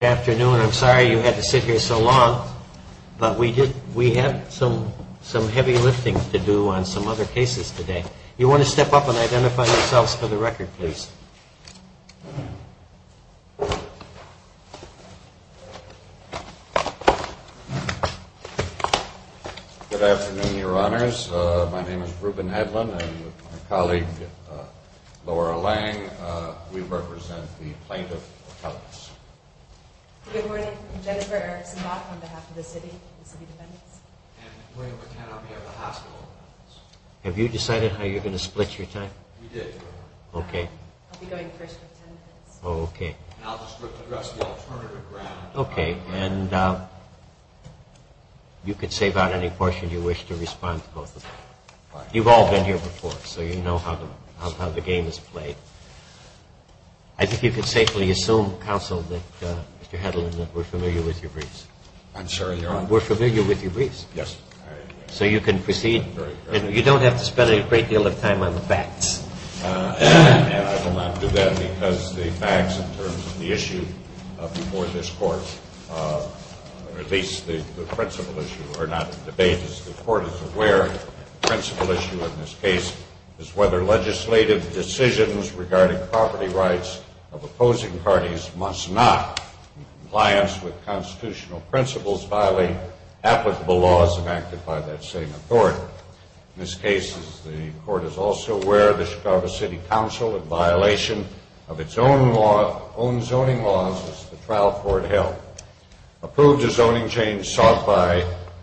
Good afternoon. I'm sorry you had to sit here so long, but we have some heavy lifting to do on some other cases today. You want to step up and identify yourselves for the record, please. Good afternoon, Your Honors. My name is Reuben Edlin and with my colleague, Laura Lang, we represent the Plaintiff's Office. Good morning. I'm Jennifer Erickson-Locke on behalf of the City and City Defendants. And we're going to pretend I'm here at the hospital. Have you decided how you're going to split your time? We did. Okay. I'll be going first with ten minutes. Okay. And I'll just address the alternative round. Okay. And you can save out any portion you wish to respond to both of them. You've all been here before, so you know how the game is played. I think you can safely assume, Counsel, that Mr. Edlin, that we're familiar with your briefs. I'm sure, Your Honor. We're familiar with your briefs. Yes. So you can proceed. You don't have to spend a great deal of time on the facts. I will not do that because the facts in terms of the issue before this Court, or at least the principal issue, or not the debate as the Court is aware, the principal issue in this case, is whether legislative decisions regarding property rights of opposing parties must not, in compliance with constitutional principles, violate applicable laws enacted by that same authority. In this case, as the Court is also aware, the Chicago City Council, in violation of its own zoning laws as the trial court held, approved a zoning change sought by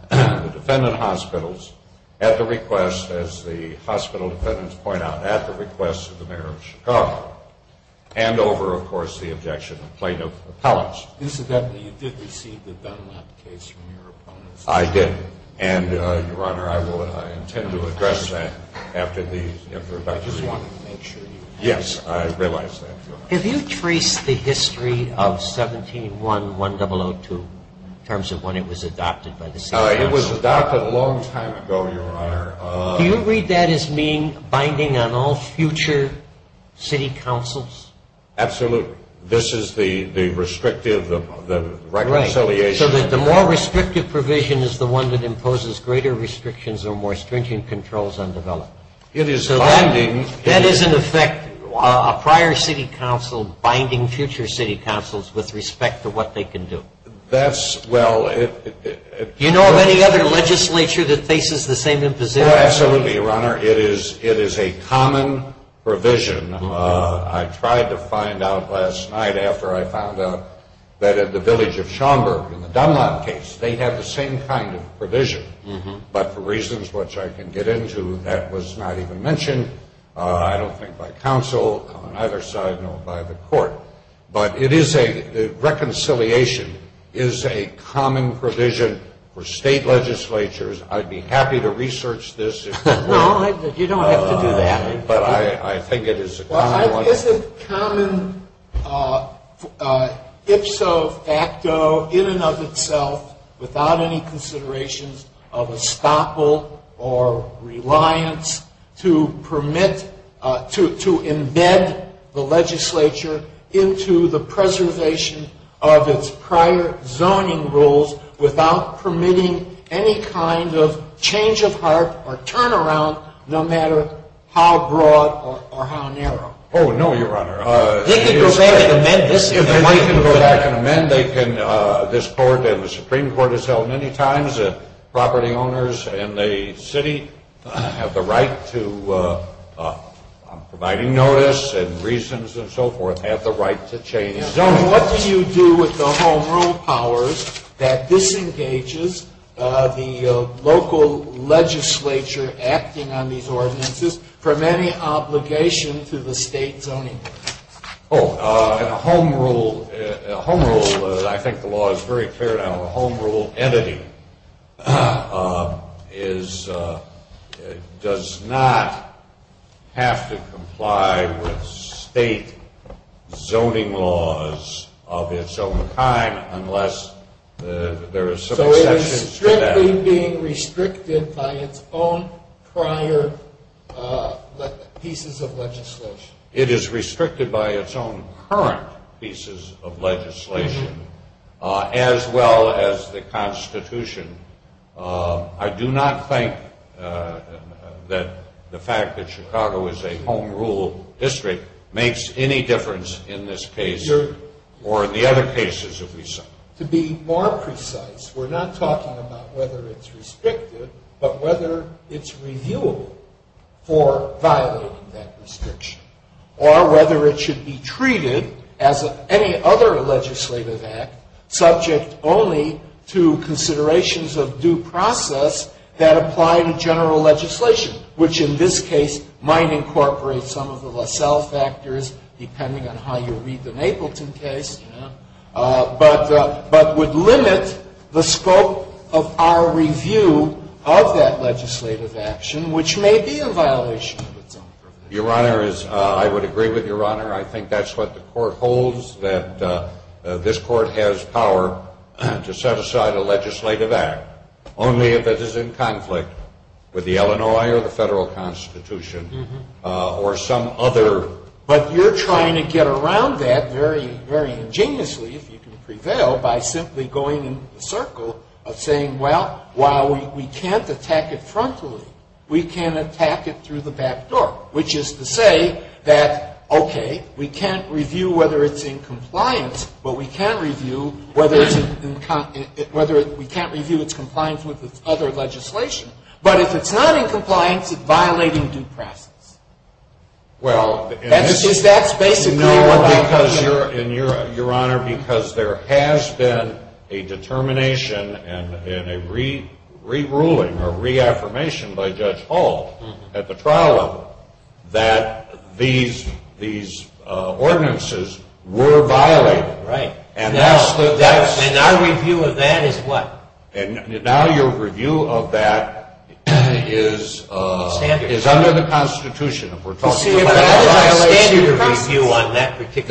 the defendant hospitals at the request, as the hospital defendants point out, at the request of the mayor of Chicago, and over, of course, the objection of plaintiff appellants. Incidentally, you did receive the Dunlap case from your opponents. I did. And, Your Honor, I will intend to address that after the introductory. I just wanted to make sure you had that. Yes, I realize that, Your Honor. Have you traced the history of 17-1-1002 in terms of when it was adopted by the City Council? It was adopted a long time ago, Your Honor. Do you read that as being binding on all future City Councils? Absolutely. This is the restrictive reconciliation. Right. So the more restrictive provision is the one that imposes greater restrictions or more stringent controls on development. It is binding. That is, in effect, a prior City Council binding future City Councils with respect to what they can do. That's, well. Do you know of any other legislature that faces the same imposition? Absolutely, Your Honor. It is a common provision. I tried to find out last night after I found out that at the village of Schaumburg in the Dunlap case, they have the same kind of provision, but for reasons which I can get into, that was not even mentioned, I don't think, by counsel on either side, nor by the court. But reconciliation is a common provision for state legislatures. I'd be happy to research this. No, you don't have to do that. But I think it is a common one. into the preservation of its prior zoning rules without permitting any kind of change of heart or turnaround, no matter how broad or how narrow. Oh, no, Your Honor. They can go back and amend this. They can go back and amend. They can. This court and the Supreme Court has held many times that property owners in the city have the right to providing notice and reasons and so forth, have the right to change their zoning laws. What do you do with the home rule powers that disengages the local legislature acting on these ordinances from any obligation to the state zoning? Oh, a home rule, I think the law is very clear now, a home rule entity does not have to comply with state zoning laws of its own kind unless there are some exceptions to that. So it is strictly being restricted by its own prior pieces of legislation. It is restricted by its own current pieces of legislation as well as the Constitution. I do not think that the fact that Chicago is a home rule district makes any difference in this case or in the other cases that we see. To be more precise, we're not talking about whether it's restricted, but whether it's reviewable for violating that restriction or whether it should be treated as any other legislative act subject only to considerations of due process that apply to general legislation, which in this case might incorporate some of the LaSalle factors, depending on how you read the Mapleton case, but would limit the scope of our review of that legislative action, which may be a violation of its own. Your Honor, I would agree with Your Honor. I think that's what the Court holds, that this Court has power to set aside a legislative act only if it is in conflict with the Illinois or the Federal Constitution or some other. But you're trying to get around that very, very ingeniously, if you can prevail, by simply going in the circle of saying, well, while we can't attack it frontally, we can attack it through the back door, which is to say that, okay, we can't review whether it's in compliance, but we can't review whether it's in whether we can't review its compliance with its other legislation. But if it's not in compliance, it's violating due process. That's basically what I'm saying. Your Honor, because there has been a determination and a re-ruling or reaffirmation by Judge Hall at the trial level that these ordinances were violated. Right. And our review of that is what? The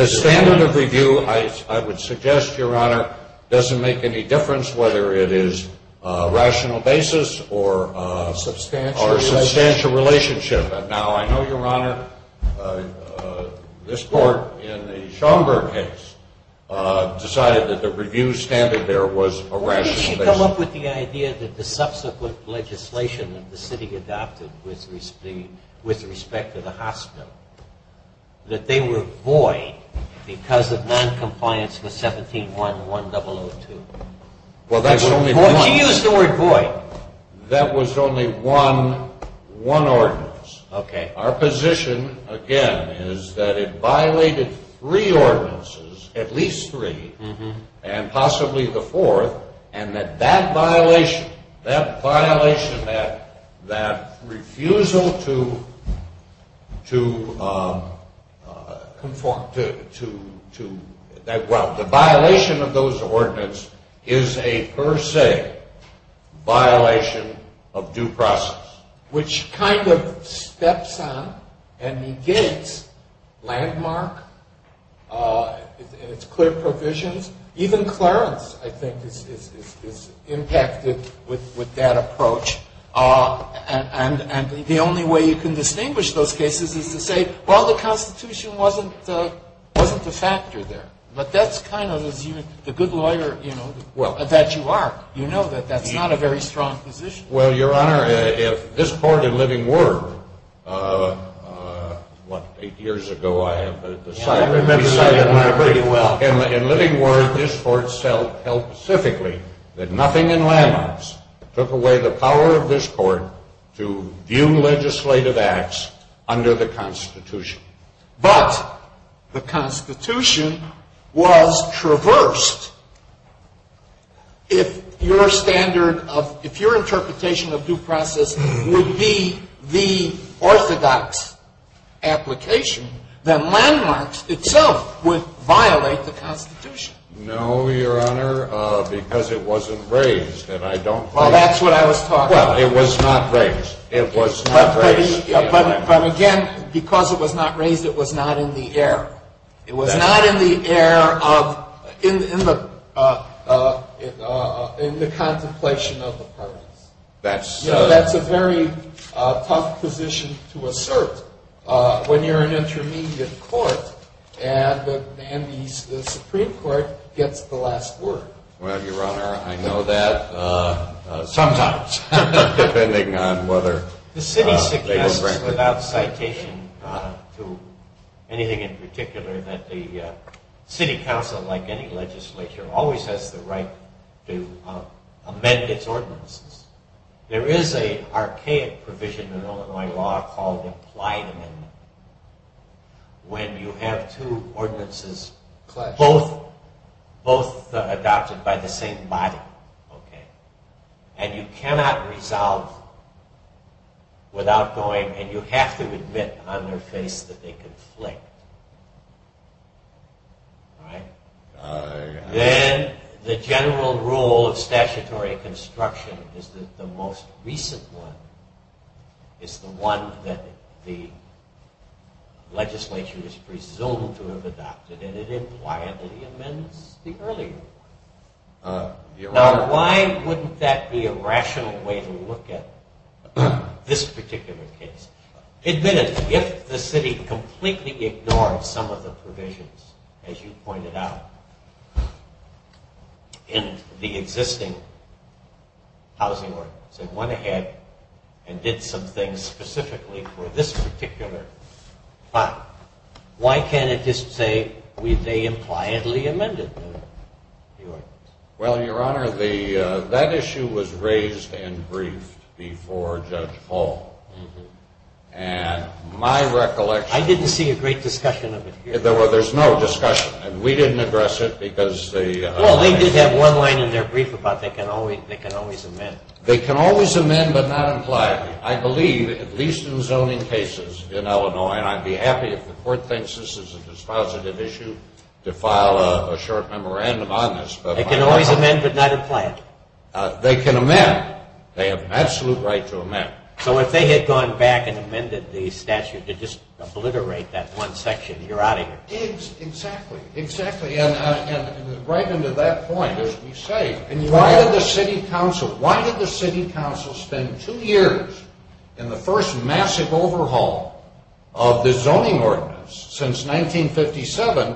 standard of review, I would suggest, Your Honor, doesn't make any difference whether it is a rational basis or a substantial relationship. Now, I know, Your Honor, this Court in the Schomburg case decided that the review standard there was a rational basis. Could you come up with the idea that the subsequent legislation that the city adopted with respect to the hospital, that they were void because of noncompliance with 17.1.1002? Well, that's only one. Could you use the word void? That was only one ordinance. Okay. Our position, again, is that it violated three ordinances, at least three, and possibly the fourth, and that that violation, that violation, that refusal to, well, the violation of those ordinances is a per se violation of due process. Which kind of steps on and negates landmark and its clear provisions. Even Clarence, I think, is impacted with that approach. And the only way you can distinguish those cases is to say, well, the Constitution wasn't the factor there. But that's kind of the good lawyer, you know, that you are. You know that that's not a very strong position. Well, Your Honor, if this court in Living Word, what, eight years ago I have, but at the time. I remember that very well. In Living Word, this court held specifically that nothing in landmarks took away the power of this court to view legislative acts under the Constitution. But the Constitution was traversed. If your standard of, if your interpretation of due process would be the orthodox application, then landmarks itself would violate the Constitution. No, Your Honor, because it wasn't raised, and I don't think. Well, that's what I was talking about. Well, it was not raised. It was not raised. But again, because it was not raised, it was not in the air. It was not in the air of, in the contemplation of the parties. That's a very tough position to assert when you're an intermediate court and the Supreme Court gets the last word. Well, Your Honor, I know that sometimes, depending on whether. The city suggests without citation to anything in particular that the city council, like any legislature, always has the right to amend its ordinances. There is an archaic provision in Illinois law called implied amendment. When you have two ordinances, both adopted by the same body. And you cannot resolve without going, and you have to admit on their face that they conflict. Then the general rule of statutory construction is that the most recent one is the one that the legislature is presumed to have adopted, and it implied that he amends the earlier one. Now, why wouldn't that be a rational way to look at this particular case? Admit it. If the city completely ignored some of the provisions, as you pointed out, in the existing housing ordinance, and went ahead and did some things specifically for this particular plot, why can't it just say they impliedly amended the ordinance? Well, Your Honor, that issue was raised and briefed before Judge Hall. And my recollection... I didn't see a great discussion of it here. There's no discussion. We didn't address it because the... Well, they did have one line in their brief about they can always amend. They can always amend, but not impliedly. I believe, at least in zoning cases in Illinois, and I'd be happy if the court thinks this is a dispositive issue to file a short memorandum on this. They can always amend, but not implied. They can amend. They have an absolute right to amend. So if they had gone back and amended the statute to just obliterate that one section, you're out of here. Exactly, exactly. And right into that point, as we say, why did the city council spend two years in the first massive overhaul of the zoning ordinance since 1957?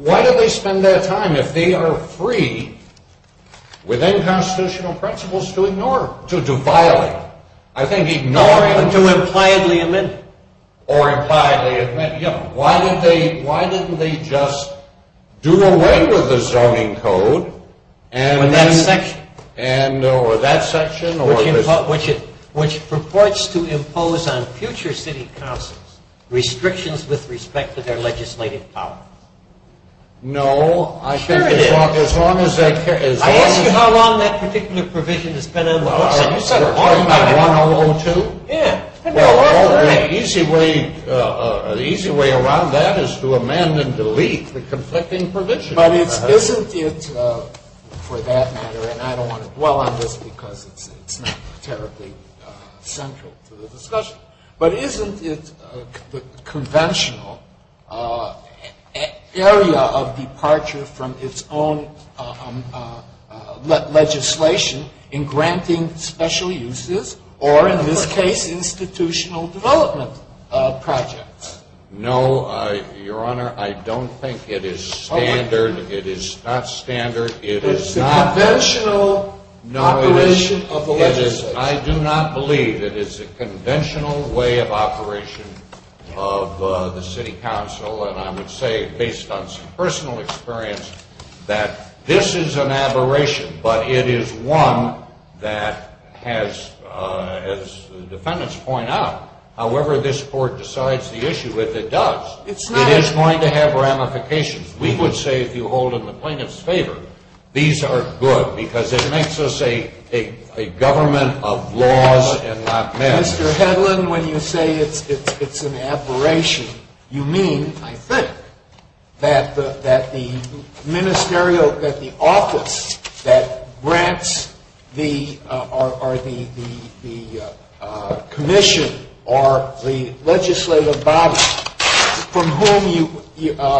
Why did they spend that time if they are free, within constitutional principles, to ignore it? To violate it. I think ignore it. Or to impliedly amend it. Or impliedly amend it. Why didn't they just do away with the zoning code? With that section. With that section. Which purports to impose on future city councils restrictions with respect to their legislative power. No, I think as long as that... I asked you how long that particular provision has been on the books. You said 1.102. Yeah. Well, the easy way around that is to amend and delete the conflicting provision. But isn't it, for that matter, and I don't want to dwell on this because it's not terribly central to the discussion, but isn't it the conventional area of departure from its own legislation in granting special uses or, in this case, institutional development projects? No, Your Honor, I don't think it is standard. It is not standard. It is the conventional operation of the legislature. I do not believe it is the conventional way of operation of the city council. And I would say, based on some personal experience, that this is an aberration. But it is one that has, as the defendants point out, however this Court decides the issue with, it does. It is going to have ramifications. We would say, if you hold in the plaintiff's favor, these are good because it makes us a government of laws and not measures. Mr. Hedlund, when you say it's an aberration, you mean, I think, that the office that grants the commission or the legislative body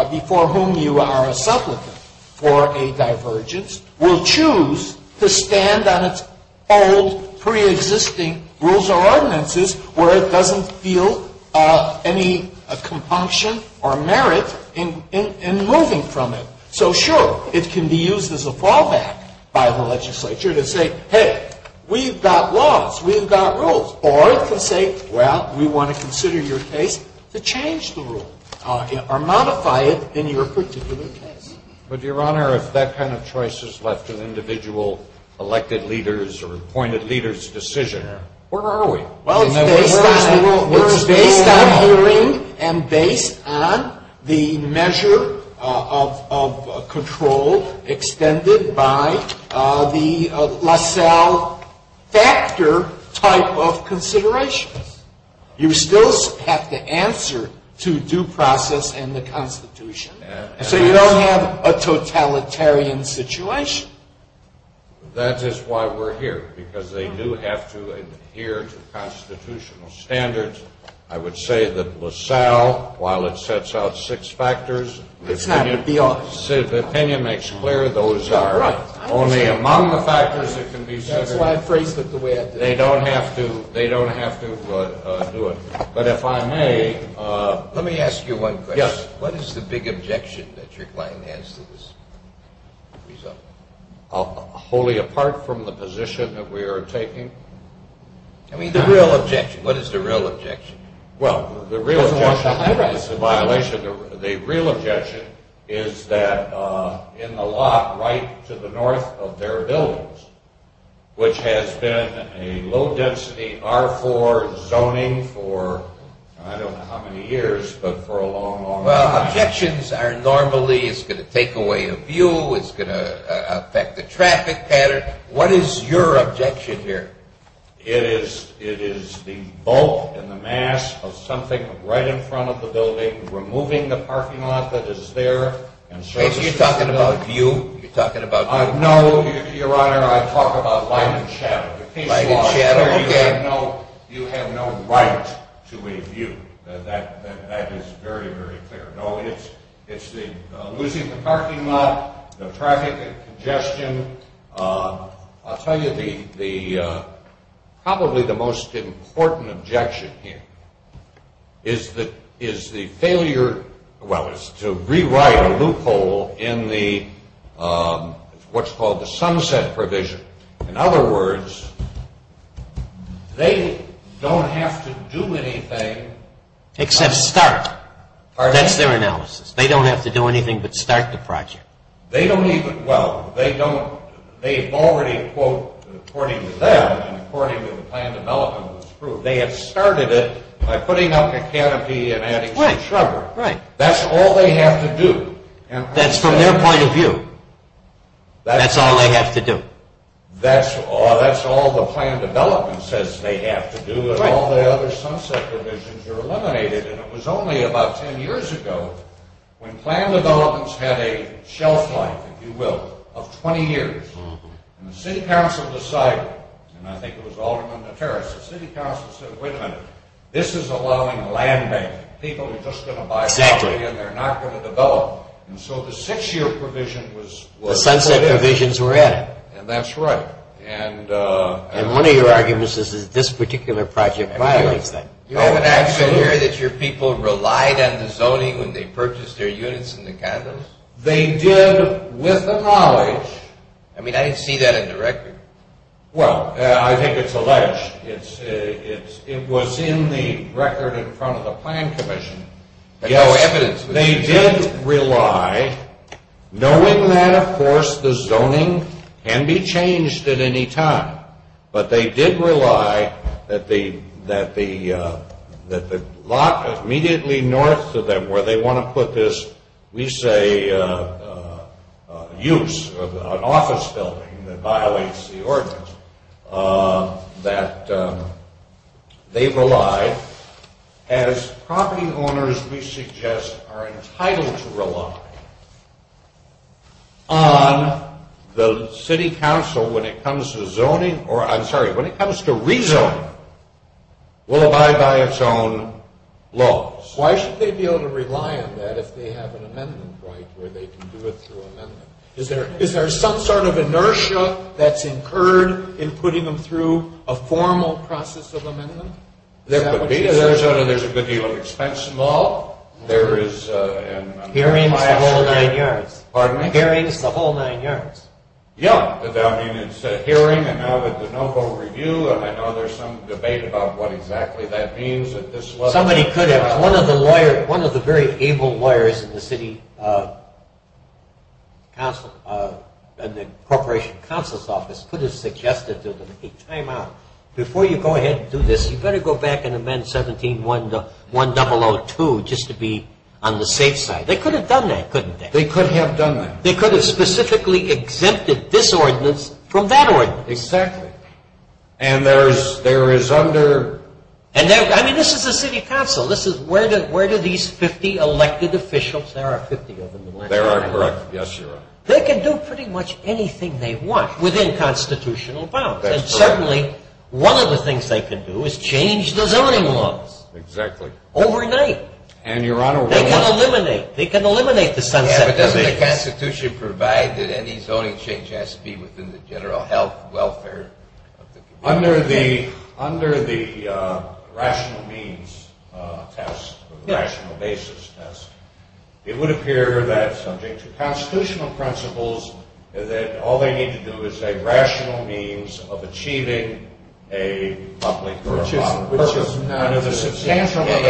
before whom you are a supplicant for a divergence will choose to stand on its old, preexisting rules or ordinances where it doesn't feel any compunction or merit in moving from it. So, sure, it can be used as a fallback by the legislature to say, hey, we've got laws, we've got rules. Or it can say, well, we want to consider your case to change the rule or modify it in your particular case. But, Your Honor, if that kind of choice is left to the individual elected leaders or appointed leaders' decision, where are we? Well, it's based on hearing and based on the measure of control extended by the LaSalle factor type of considerations. You still have to answer to due process and the Constitution. So you don't have a totalitarian situation? That is why we're here, because they do have to adhere to constitutional standards. I would say that LaSalle, while it sets out six factors, the opinion makes clear those are only among the factors that can be centered. That's why I phrased it the way I did. They don't have to do it. But if I may, let me ask you one question. Yes. What is the big objection that your client has to this? Wholly apart from the position that we are taking? I mean, the real objection. What is the real objection? Well, the real objection is that in the lot right to the north of their buildings, which has been a low-density R4 zoning for I don't know how many years, but for a long, long time. Well, objections are normally it's going to take away a view, it's going to affect the traffic pattern. What is your objection here? It is the bulk and the mass of something right in front of the building removing the parking lot that is there. You're talking about view? You're talking about view? No, Your Honor, I'm talking about light and shadow. Light and shadow, okay. You have no right to a view. That is very, very clear. No, it's losing the parking lot, the traffic congestion. I'll tell you probably the most important objection here is the failure, well, is to rewrite a loophole in what's called the sunset provision. In other words, they don't have to do anything. Except start. That's their analysis. They don't have to do anything but start the project. They don't even, well, they don't, they've already quote according to them and according to the plan development that was approved, they have started it by putting up a canopy and adding some shrubbery. Right, right. That's all they have to do. That's from their point of view. That's all they have to do. That's all the plan development says they have to do and all the other sunset provisions are eliminated and it was only about 10 years ago when plan developments had a shelf life, if you will, of 20 years. And the city council decided, and I think it was Alderman Materis, the city council said, wait a minute, this is allowing land bank. People are just going to buy property and they're not going to develop. And so the six-year provision was put in. The sunset provisions were added. And that's right. And one of your arguments is that this particular project violates that. You don't actually hear that your people relied on the zoning when they purchased their units in the condos? They did with the knowledge. I mean, I didn't see that in the record. Well, I think it's alleged. It was in the record in front of the plan commission. There's no evidence. They did rely, knowing that, of course, the zoning can be changed at any time, but they did rely that the lot immediately north of them where they want to put this, we say, use of an office building that violates the ordinance, that they relied. As property owners, we suggest, are entitled to rely on the city council when it comes to zoning, or I'm sorry, when it comes to rezoning, will abide by its own laws. Why should they be able to rely on that if they have an amendment right where they can do it through amendment? Is there some sort of inertia that's incurred in putting them through a formal process of amendment? There could be. In Arizona, there's a good deal of expense involved. Hearings the whole nine yards. Pardon me? Hearings the whole nine yards. Yeah. I mean, it's a hearing, and now with the no vote review, and I know there's some debate about what exactly that means. Somebody could have. One of the very able lawyers in the city council, in the corporation council's office, could have suggested that they time out. Before you go ahead and do this, you better go back and amend 17-1002 just to be on the safe side. They could have done that, couldn't they? They could have done that. They could have specifically exempted this ordinance from that ordinance. Exactly. And there is under... I mean, this is the city council. Where do these 50 elected officials, there are 50 of them. There are, correct. Yes, you're right. They can do pretty much anything they want within constitutional bounds. And certainly, one of the things they could do is change the zoning laws. Exactly. Overnight. And, Your Honor... They can eliminate... They can eliminate the sunset... Yeah, but doesn't the Constitution provide that any zoning change has to be within the general health, welfare... Under the rational means test, the rational basis test, it would appear that subject to constitutional principles, that all they need to do is a rational means of achieving a public or a private... Which is not... Under the substantial... But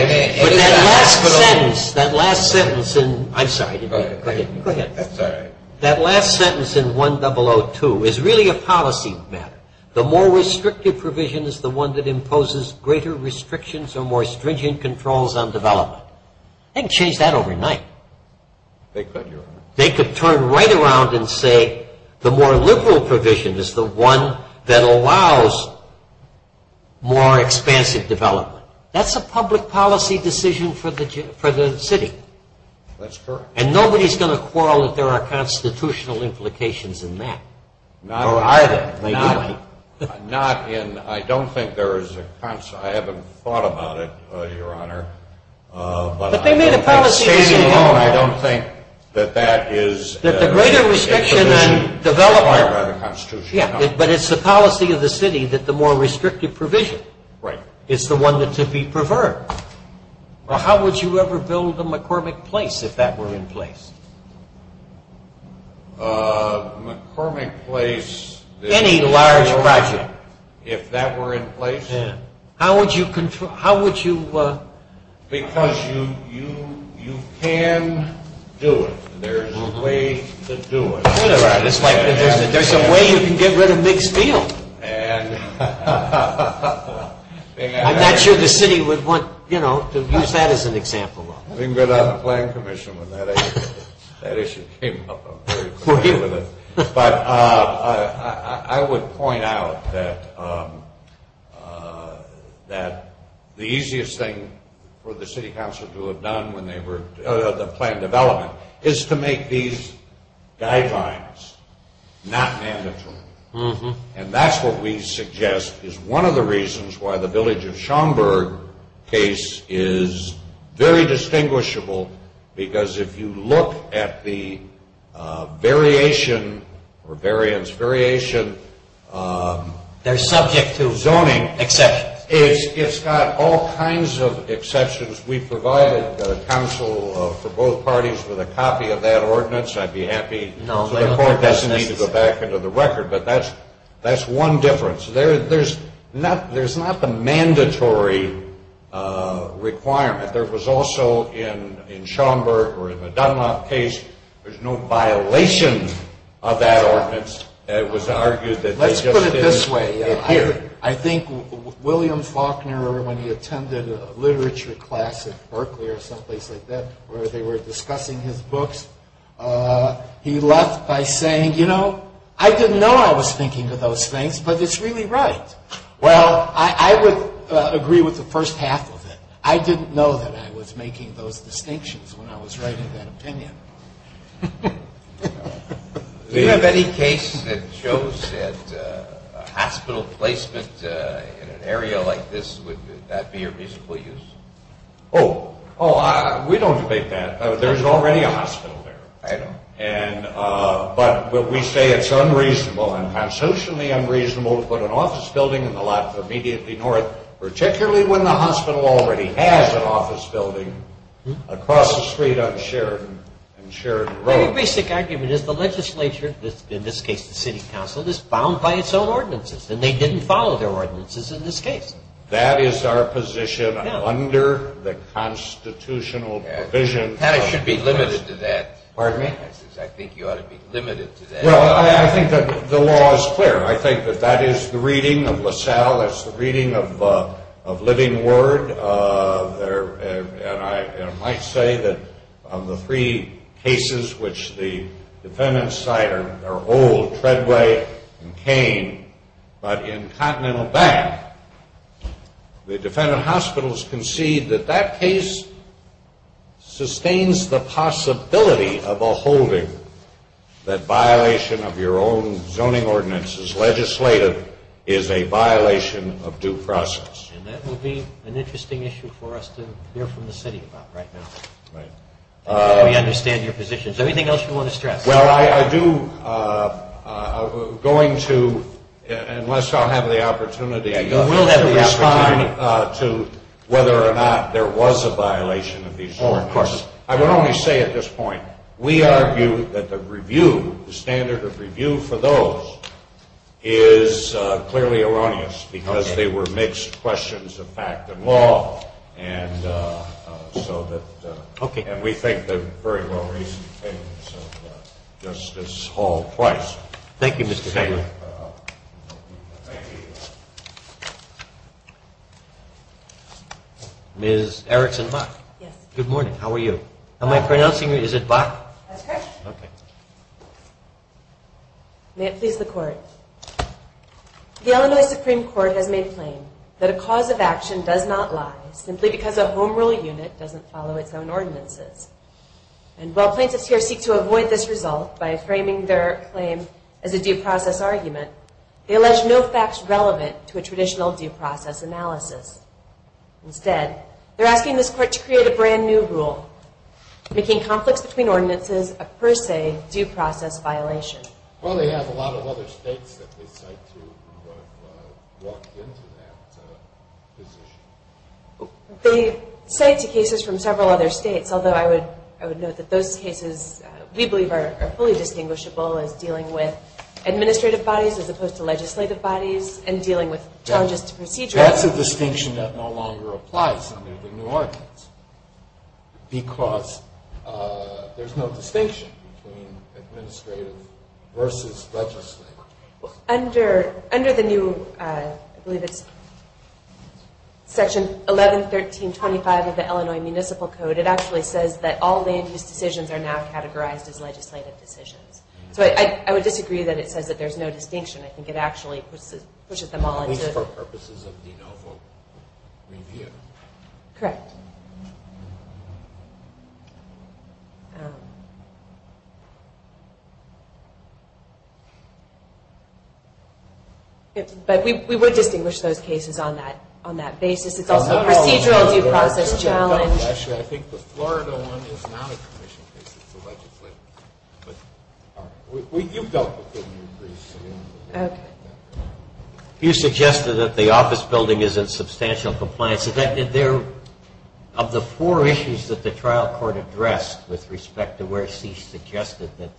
that last sentence, that last sentence in... I'm sorry. Go ahead. Go ahead. Sorry. That last sentence in 1-002 is really a policy matter. The more restrictive provision is the one that imposes greater restrictions or more stringent controls on development. They can change that overnight. They could, Your Honor. They could turn right around and say the more liberal provision is the one that allows more expansive development. That's a public policy decision for the city. That's correct. And nobody's going to quarrel that there are constitutional implications in that. Or either. Not in... I don't think there is a... I haven't thought about it, Your Honor. But they made a policy decision. I don't think that that is... That the greater restriction on development... It's a provision required by the Constitution. Yeah, but it's the policy of the city that the more restrictive provision... Right. Is the one that's to be preferred. How would you ever build a McCormick Place if that were in place? McCormick Place... Any large project. If that were in place... Yeah. How would you... How would you... Because you can do it. There's a way to do it. There's a way you can get rid of McSpeel. And... I'm not sure the city would want to use that as an example. We can go down to the Planning Commission when that issue came up. I'm very clear with it. But I would point out that the easiest thing for the city council to have done when they were... The plan development is to make these guidelines not mandatory. And that's what we suggest is one of the reasons why the Village of Schaumburg case is very distinguishable. Because if you look at the variation or variance... Variation... They're subject to... Zoning. Exceptions. It's got all kinds of exceptions. We provided counsel for both parties with a copy of that ordinance. I'd be happy... No... So the court doesn't need to go back into the record. But that's one difference. There's not the mandatory requirement. There was also in Schaumburg or in the Dunlop case... There's no violation of that ordinance. It was argued that they just didn't... Let's put it this way. I think William Faulkner, when he attended a literature class at Berkeley or someplace like that... Where they were discussing his books... He left by saying, you know, I didn't know I was thinking of those things. But it's really right. Well, I would agree with the first half of it. I didn't know that I was making those distinctions when I was writing that opinion. Do you have any case that shows that a hospital placement in an area like this... Would that be your reasonable use? Oh... We don't debate that. There's already a hospital there. I know. But we say it's unreasonable and socially unreasonable to put an office building in the lot immediately north... Somebody has an office building across the street on Sheridan Road. My basic argument is the legislature, in this case the city council, is bound by its own ordinances. And they didn't follow their ordinances in this case. That is our position under the constitutional provision... Pat, I should be limited to that. Pardon me? I think you ought to be limited to that. Well, I think the law is clear. I think that that is the reading of LaSalle. It's the reading of living word. And I might say that of the three cases which the defendants cite are old... Treadway and Kane. But in Continental Bank, the defendant hospitals concede that that case sustains the possibility of a holding. That violation of your own zoning ordinances legislated is a violation of due process. And that would be an interesting issue for us to hear from the city about right now. Right. Before we understand your position. Is there anything else you want to stress? Well, I do... Going to... Unless I'll have the opportunity... You will have the opportunity. Oh, of course. I would only say at this point, we argue that the review, the standard of review for those is clearly erroneous. Because they were mixed questions of fact and law. And so that... Okay. And we think they're very well reasoned things of Justice Hall Price. Thank you, Mr. Chairman. Thank you. Ms. Erickson-Hock. Yes. Good morning. How are you? Am I pronouncing you? Is it Bach? That's correct. Okay. May it please the Court. The Illinois Supreme Court has made plain that a cause of action does not lie. Simply because a home rule unit doesn't follow its own ordinances. And while plaintiffs here seek to avoid this result by framing their claim as a due process argument. They allege no facts relevant to a traditional due process analysis. Instead, they're asking this Court to create a brand new rule. Making conflicts between ordinances a per se due process violation. Well, they have a lot of other states that they cite to have walked into that position. They cite cases from several other states. Although I would note that those cases we believe are fully distinguishable as dealing with administrative bodies. As opposed to legislative bodies. And dealing with charges to procedures. That's a distinction that no longer applies under the new ordinance. Because there's no distinction between administrative versus legislative. Under the new, I believe it's section 1113.25 of the Illinois Municipal Code. It actually says that all land use decisions are now categorized as legislative decisions. So I would disagree that it says that there's no distinction. I think it actually pushes them all into. For purposes of de novo review. Correct. But we would distinguish those cases on that basis. It's also a procedural due process challenge. I think the Florida one is not a commission case. It's a legislative case. You've dealt with the new briefs. Okay. You suggested that the office building is in substantial compliance. Of the four issues that the trial court addressed with respect to where C suggested that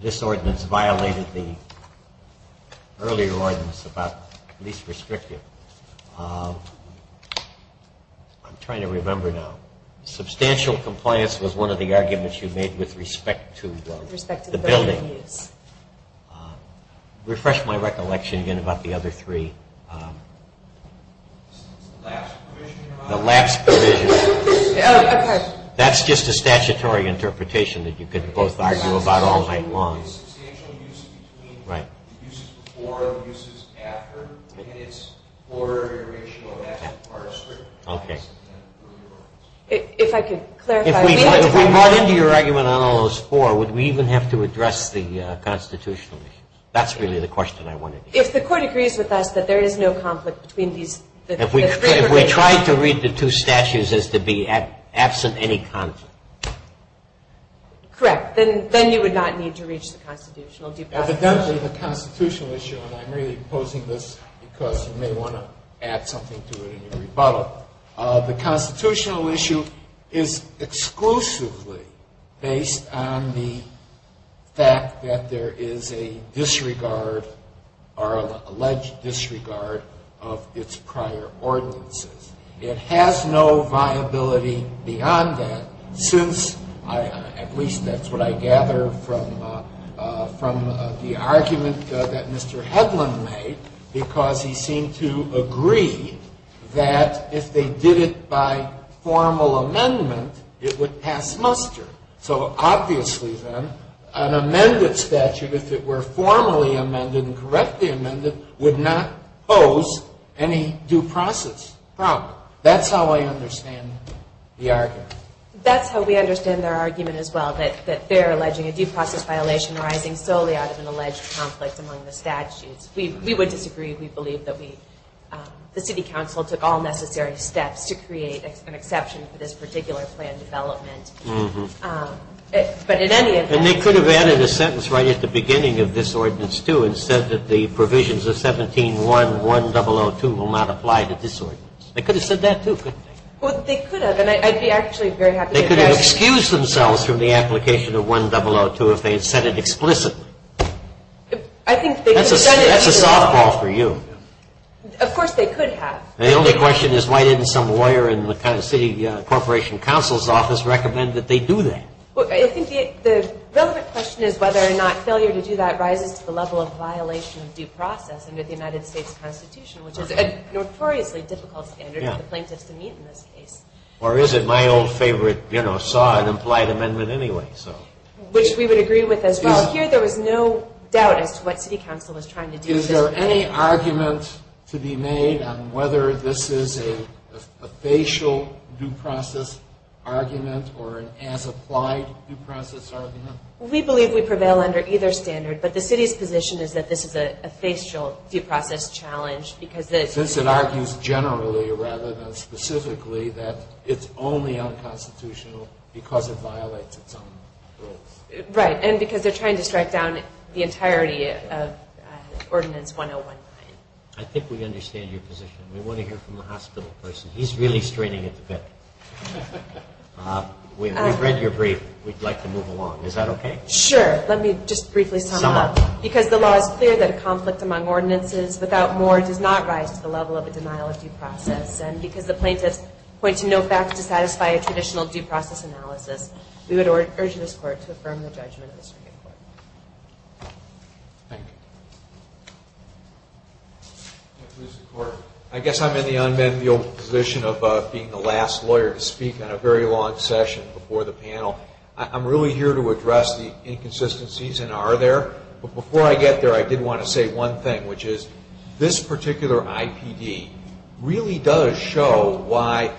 this ordinance violated the earlier ordinance about least restrictive. I'm trying to remember now. Substantial compliance was one of the arguments you made with respect to the building. Refresh my recollection again about the other three. The lapse provision. That's just a statutory interpretation that you could both argue about all night long. If I could clarify. If we brought into your argument on all those four, would we even have to address the constitutional issues? That's really the question I wanted to ask. If the court agrees with us that there is no conflict between these. If we tried to read the two statutes as to be absent any conflict. Correct. Then you would not need to reach the constitutional due process. Evidently the constitutional issue, and I'm really opposing this because you may want to add something to it in your rebuttal. The constitutional issue is exclusively based on the fact that there is a disregard or alleged disregard of its prior ordinances. It has no viability beyond that since, at least that's what I gather from the argument that Mr. If they did it by formal amendment, it would pass muster. So obviously then, an amended statute, if it were formally amended and correctly amended, would not pose any due process problem. That's how I understand the argument. That's how we understand their argument as well, that they're alleging a due process violation arising solely out of an alleged conflict among the statutes. We would disagree. We believe that the city council took all necessary steps to create an exception for this particular plan development. But in any event. And they could have added a sentence right at the beginning of this ordinance, too, and said that the provisions of 17.1.1002 will not apply to this ordinance. They could have said that, too, couldn't they? Well, they could have, and I'd be actually very happy to address it. They could have excused themselves from the application of 1002 if they had said it explicitly. I think they could have said it. That's a softball for you. Of course they could have. The only question is why didn't some lawyer in the city corporation council's office recommend that they do that? I think the relevant question is whether or not failure to do that rises to the level of violation of due process under the United States Constitution, which is a notoriously difficult standard for the plaintiffs to meet in this case. Or is it? My old favorite, you know, saw an implied amendment anyway, so. Which we would agree with as well. Here there was no doubt as to what city council was trying to do. Is there any argument to be made on whether this is a facial due process argument or an as-applied due process argument? We believe we prevail under either standard, but the city's position is that this is a facial due process challenge because... Since it argues generally rather than specifically that it's only unconstitutional because it violates its own rules. Right, and because they're trying to strike down the entirety of Ordinance 1019. I think we understand your position. We want to hear from the hospital person. He's really straining it a bit. We've read your brief. We'd like to move along. Is that okay? Sure. Let me just briefly sum up. Sum up. Because the law is clear that a conflict among ordinances without more does not rise to the level of a denial of due process. And because the plaintiffs point to no facts to satisfy a traditional due process analysis... We would urge this Court to affirm the judgment of the Supreme Court. Thank you. I guess I'm in the unbendable position of being the last lawyer to speak on a very long session before the panel. I'm really here to address the inconsistencies and are there. But before I get there, I did want to say one thing, which is this particular IPD really does show why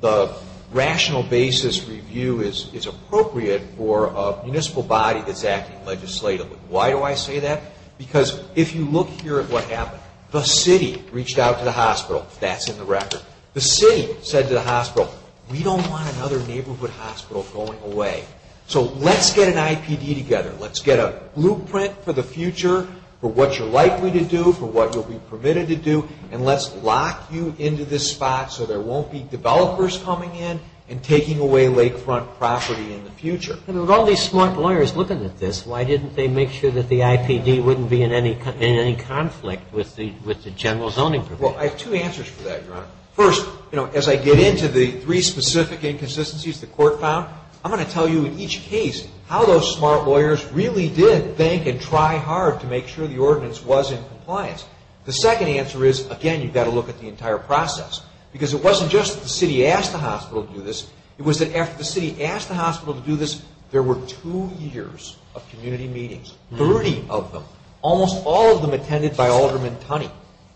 the rational basis review is appropriate for a municipal body that's acting legislatively. Why do I say that? Because if you look here at what happened, the city reached out to the hospital. That's in the record. The city said to the hospital, we don't want another neighborhood hospital going away. So let's get an IPD together. Let's get a blueprint for the future for what you're likely to do, for what you'll be permitted to do. And let's lock you into this spot so there won't be developers coming in and taking away lakefront property in the future. And with all these smart lawyers looking at this, why didn't they make sure that the IPD wouldn't be in any conflict with the general zoning provisions? Well, I have two answers for that, Your Honor. First, as I get into the three specific inconsistencies the court found, I'm going to tell you in each case how those smart lawyers really did think and try hard to make sure the ordinance was in compliance. The second answer is, again, you've got to look at the entire process. Because it wasn't just that the city asked the hospital to do this. It was that after the city asked the hospital to do this, there were two years of community meetings, 30 of them. Almost all of them attended by Alderman Tunney.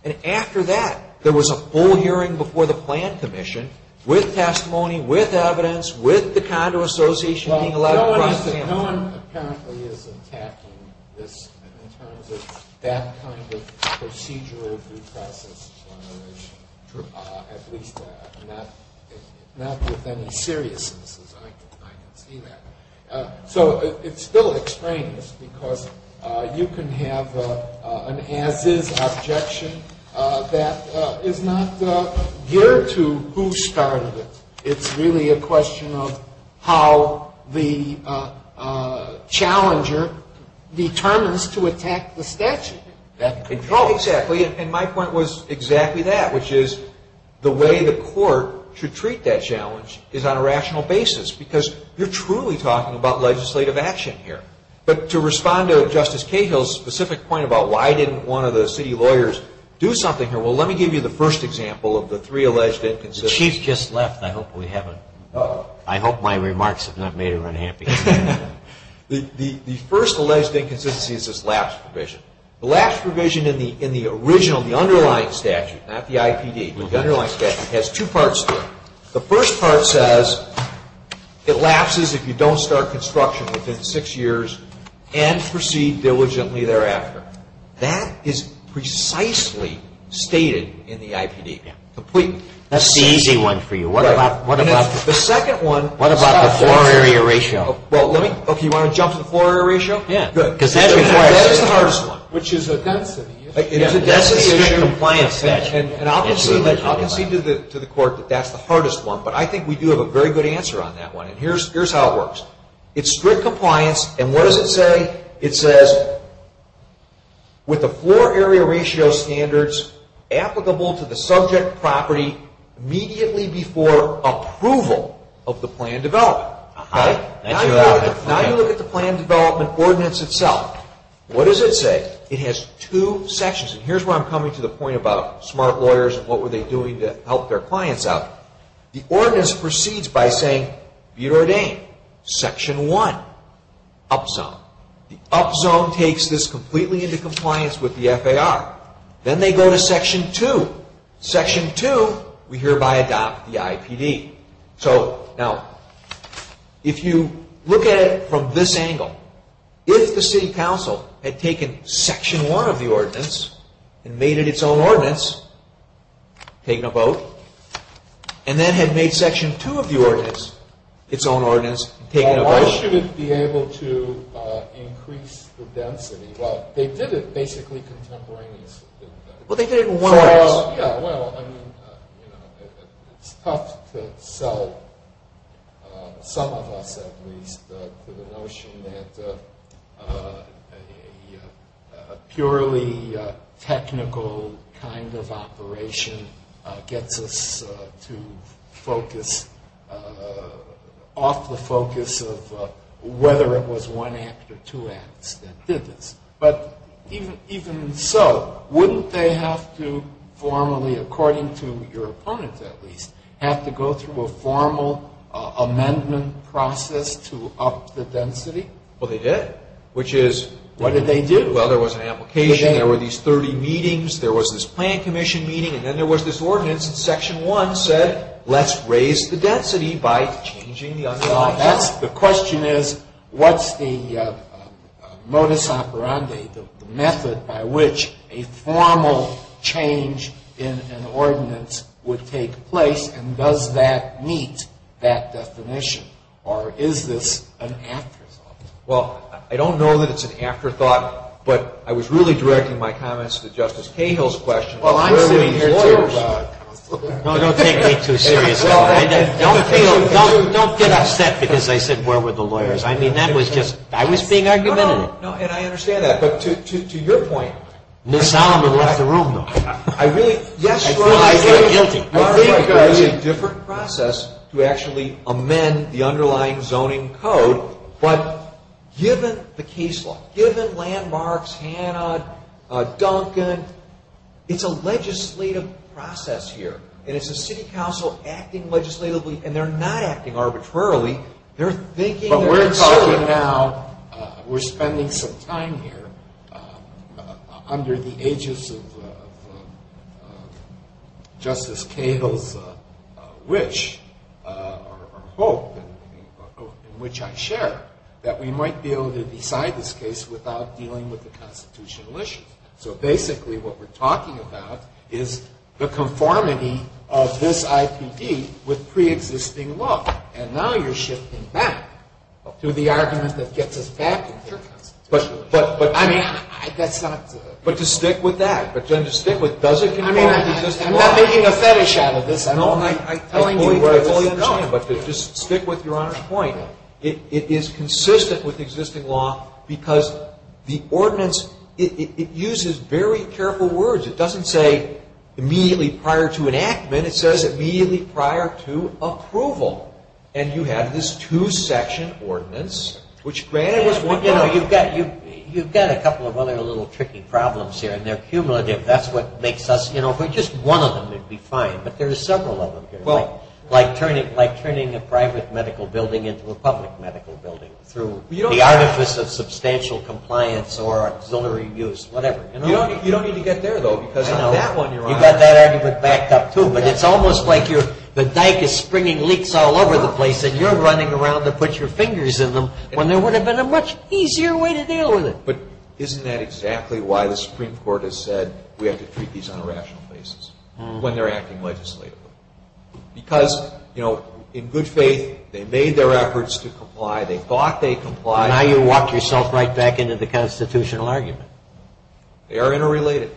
And after that, there was a full hearing before the plan commission with testimony, with evidence, with the condo association being allowed to cross examine. No one apparently is attacking this in terms of that kind of procedural due process, at least not with any seriousness, as I can see that. So it's still extraneous because you can have an as-is objection that is not geared to who started it. It's really a question of how the challenger determines to attack the statute that controls it. Exactly. And my point was exactly that, which is the way the court should treat that challenge is on a rational basis. Because you're truly talking about legislative action here. But to respond to Justice Cahill's specific point about why didn't one of the city lawyers do something here, well, let me give you the first example of the three alleged inconsistencies. The Chief just left. I hope we haven't... I hope my remarks have not made her unhappy. The first alleged inconsistency is this lapse provision. The lapse provision in the original, the underlying statute, not the IPD, but the underlying statute, has two parts to it. The first part says it lapses if you don't start construction within six years and proceed diligently thereafter. That is precisely stated in the IPD. That's the easy one for you. What about the floor area ratio? Okay, you want to jump to the floor area ratio? Yeah. That's the hardest one. Which is a density issue. It's a density issue. And I'll concede to the court that that's the hardest one, but I think we do have a very good answer on that one. And here's how it works. It's strict compliance, and what does it say? It says, with the floor area ratio standards applicable to the subject property immediately before approval of the plan development. Now you look at the plan development ordinance itself. What does it say? It has two sections, and here's where I'm coming to the point about smart lawyers and what were they doing to help their clients out. The ordinance proceeds by saying, be ordained. Section one, up zone. The up zone takes this completely into compliance with the FAR. Then they go to section two. Section two, we hereby adopt the IPD. Now, if you look at it from this angle, if the city council had taken section one of the ordinance and made it its own ordinance, taken them both, and then had made section two of the ordinance its own ordinance, taken them both. Why should it be able to increase the density? Well, they did it basically contemporaneously. Well, they did it in one ordinance. It's tough to sell some of us, at least, to the notion that a purely technical kind of operation gets us to focus off the focus of whether it was one act or two acts that did this. But even so, wouldn't they have to formally, according to your opponent, at least, have to go through a formal amendment process to up the density? Well, they did. Which is? What did they do? Well, there was an application. There were these 30 meetings. There was this plan commission meeting, and then there was this ordinance, and section one said, let's raise the density by changing the underlying act. The question is, what's the modus operandi, the method by which a formal change in an ordinance would take place, and does that meet that definition, or is this an afterthought? Well, I don't know that it's an afterthought, but I was really directing my comments to Justice Cahill's question. Well, I'm sitting here too. No, don't take me too seriously. Don't get upset because I said, where were the lawyers? I mean, that was just, I was being argumentative. No, no, and I understand that, but to your point, Ms. Solomon left the room, though. I feel guilty. I think there is a different process to actually amend the underlying zoning code, but given the case law, given landmarks, Hanna, Duncan, it's a legislative process here, and it's the city council acting legislatively, and they're not acting arbitrarily. But we're talking now, we're spending some time here under the aegis of Justice Cahill's wish, or hope, in which I share, that we might be able to decide this case without dealing with the constitutional issues. So basically, what we're talking about is the conformity of this IPD with pre-existing law, and now you're shifting back to the argument that gets us back into the constitutional issue. I mean, that's not to. But to stick with that, but then to stick with, does it conform to existing law? I'm not making a fetish out of this. I fully understand, but just stick with Your Honor's point. It is consistent with existing law because the ordinance, it uses very careful words. It doesn't say immediately prior to enactment. It says immediately prior to approval, and you have this two-section ordinance, which granted was one part of it. You've got a couple of other little tricky problems here, and they're cumulative. Just one of them would be fine, but there are several of them here, like turning a private medical building into a public medical building through the artifice of substantial compliance or auxiliary use, whatever. You don't need to get there, though, because you've got that argument backed up, too. But it's almost like the dike is springing leaks all over the place, and you're running around to put your fingers in them when there would have been a much easier way to deal with it. But isn't that exactly why the Supreme Court has said we have to treat these on a rational basis when they're acting legislatively? Because, you know, in good faith, they made their efforts to comply. They thought they complied. And now you've walked yourself right back into the constitutional argument. They are interrelated.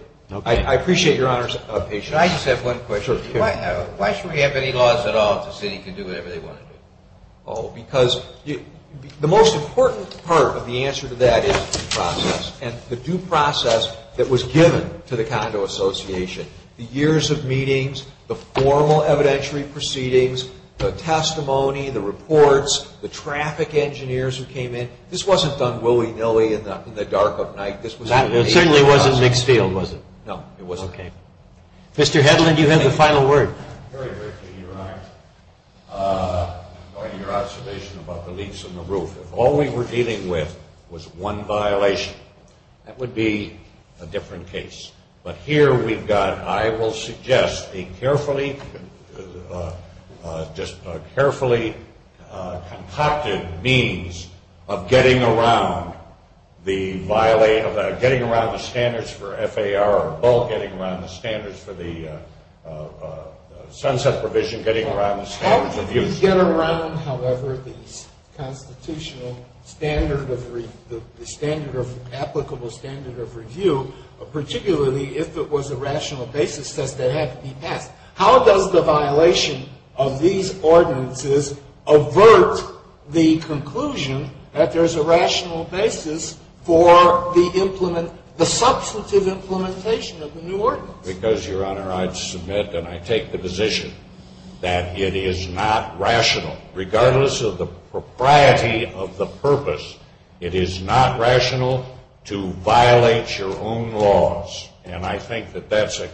I appreciate Your Honor's patience. I just have one question. Sure. Why should we have any laws at all if the city can do whatever they want to do? Oh, because the most important part of the answer to that is the process, and the due process that was given to the Condo Association. The years of meetings, the formal evidentiary proceedings, the testimony, the reports, the traffic engineers who came in. This wasn't done willy-nilly in the dark of night. It certainly wasn't mixed field, was it? No, it wasn't. Okay. Mr. Hedlund, you have the final word. Very briefly, Your Honor, going to your observation about the leaps in the roof. If all we were dealing with was one violation, that would be a different case. But here we've got, I will suggest, a carefully concocted means of getting around the standards for FAR, getting around the standards for the sunset provision, getting around the standards of use. How does the violation of these ordinances avert the conclusion that there's a rational basis for the substantive implementation of the new ordinance? Because, Your Honor, I submit and I take the position that it is not rational, regardless of the propriety of the purpose, it is not rational to violate your own standards. And I think that that's a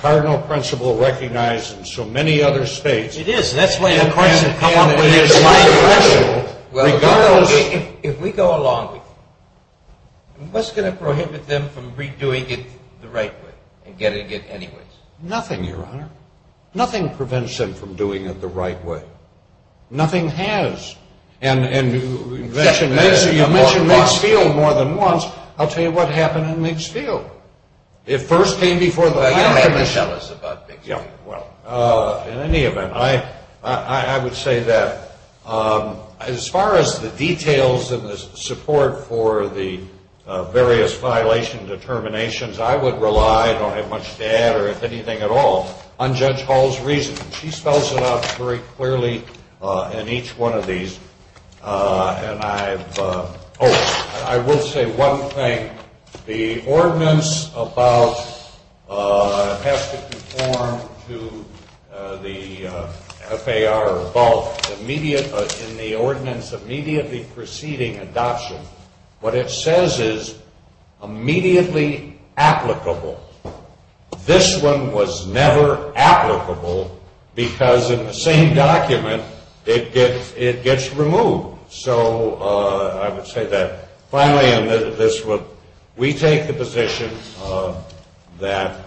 cardinal principle recognized in so many other states. It is. That's why the question came up. It is not rational, regardless. If we go along with you, what's going to prohibit them from redoing it the right way and getting it anyways? Nothing, Your Honor. Nothing prevents them from doing it the right way. Nothing has. And you mentioned mixed field more than once. I'll tell you what happened in mixed field. It first came before the… You don't have to tell us about mixed field. Well, in any event, I would say that as far as the details and the support for the various violation determinations, I would rely, I don't have much to add or anything at all, on Judge Hall's reasoning. She spells it out very clearly in each one of these. And I've… Oh, I will say one thing. The ordinance about… It has to conform to the FAR or both. In the ordinance immediately preceding adoption, what it says is immediately applicable. This one was never applicable because in the same document it gets removed. So I would say that finally in this one we take the position that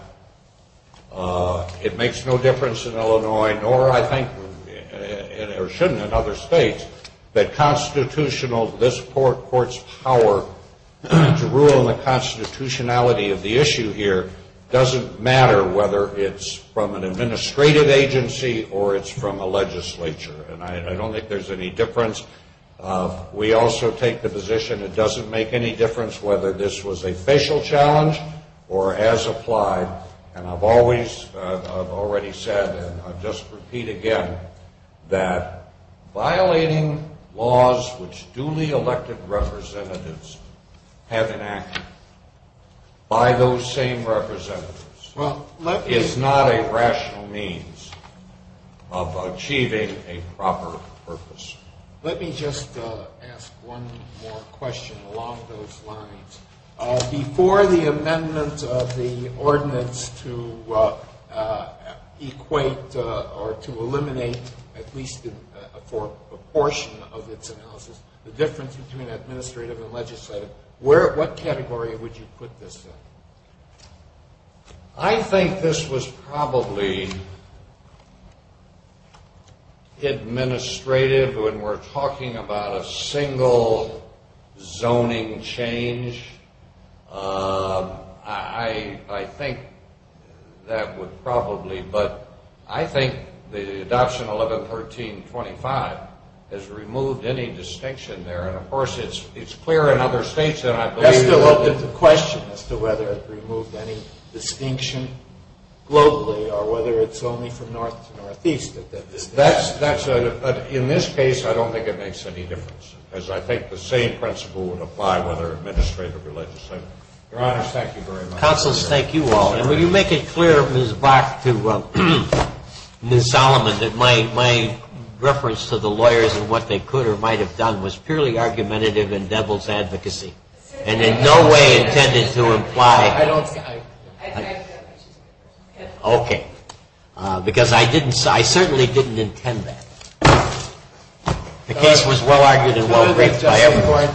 it makes no difference in Illinois, nor I think it should in other states, that constitutional, this court's power to rule on the constitutionality of the issue here doesn't matter whether it's from an administrative agency or it's from a legislature. And I don't think there's any difference. We also take the position it doesn't make any difference whether this was a facial challenge or as applied. And I've always, I've already said, and I'll just repeat again, that violating laws which duly elected representatives have enacted by those same representatives is not a rational means of achieving a proper purpose. Let me just ask one more question along those lines. Before the amendment of the ordinance to equate or to eliminate at least a portion of its analysis, the difference between administrative and legislative, what category would you put this in? I think this was probably administrative when we're talking about a single zoning change. I think that would probably, but I think the adoption 1113.25 has removed any distinction there. And, of course, it's clear in other states that I believe that. That's the question as to whether it removed any distinction globally or whether it's only from north to northeast. That's a, in this case, I don't think it makes any difference, as I think the same principle would apply whether administrative or legislative. Your Honor, thank you very much. Counselors, thank you all. And will you make it clear, Ms. Bach to Ms. Solomon, that my reference to the lawyers and what they could or might have done was purely argumentative and devil's advocacy and in no way intended to imply. I don't. Okay. Because I didn't, I certainly didn't intend that. The case was well argued and well briefed by everyone.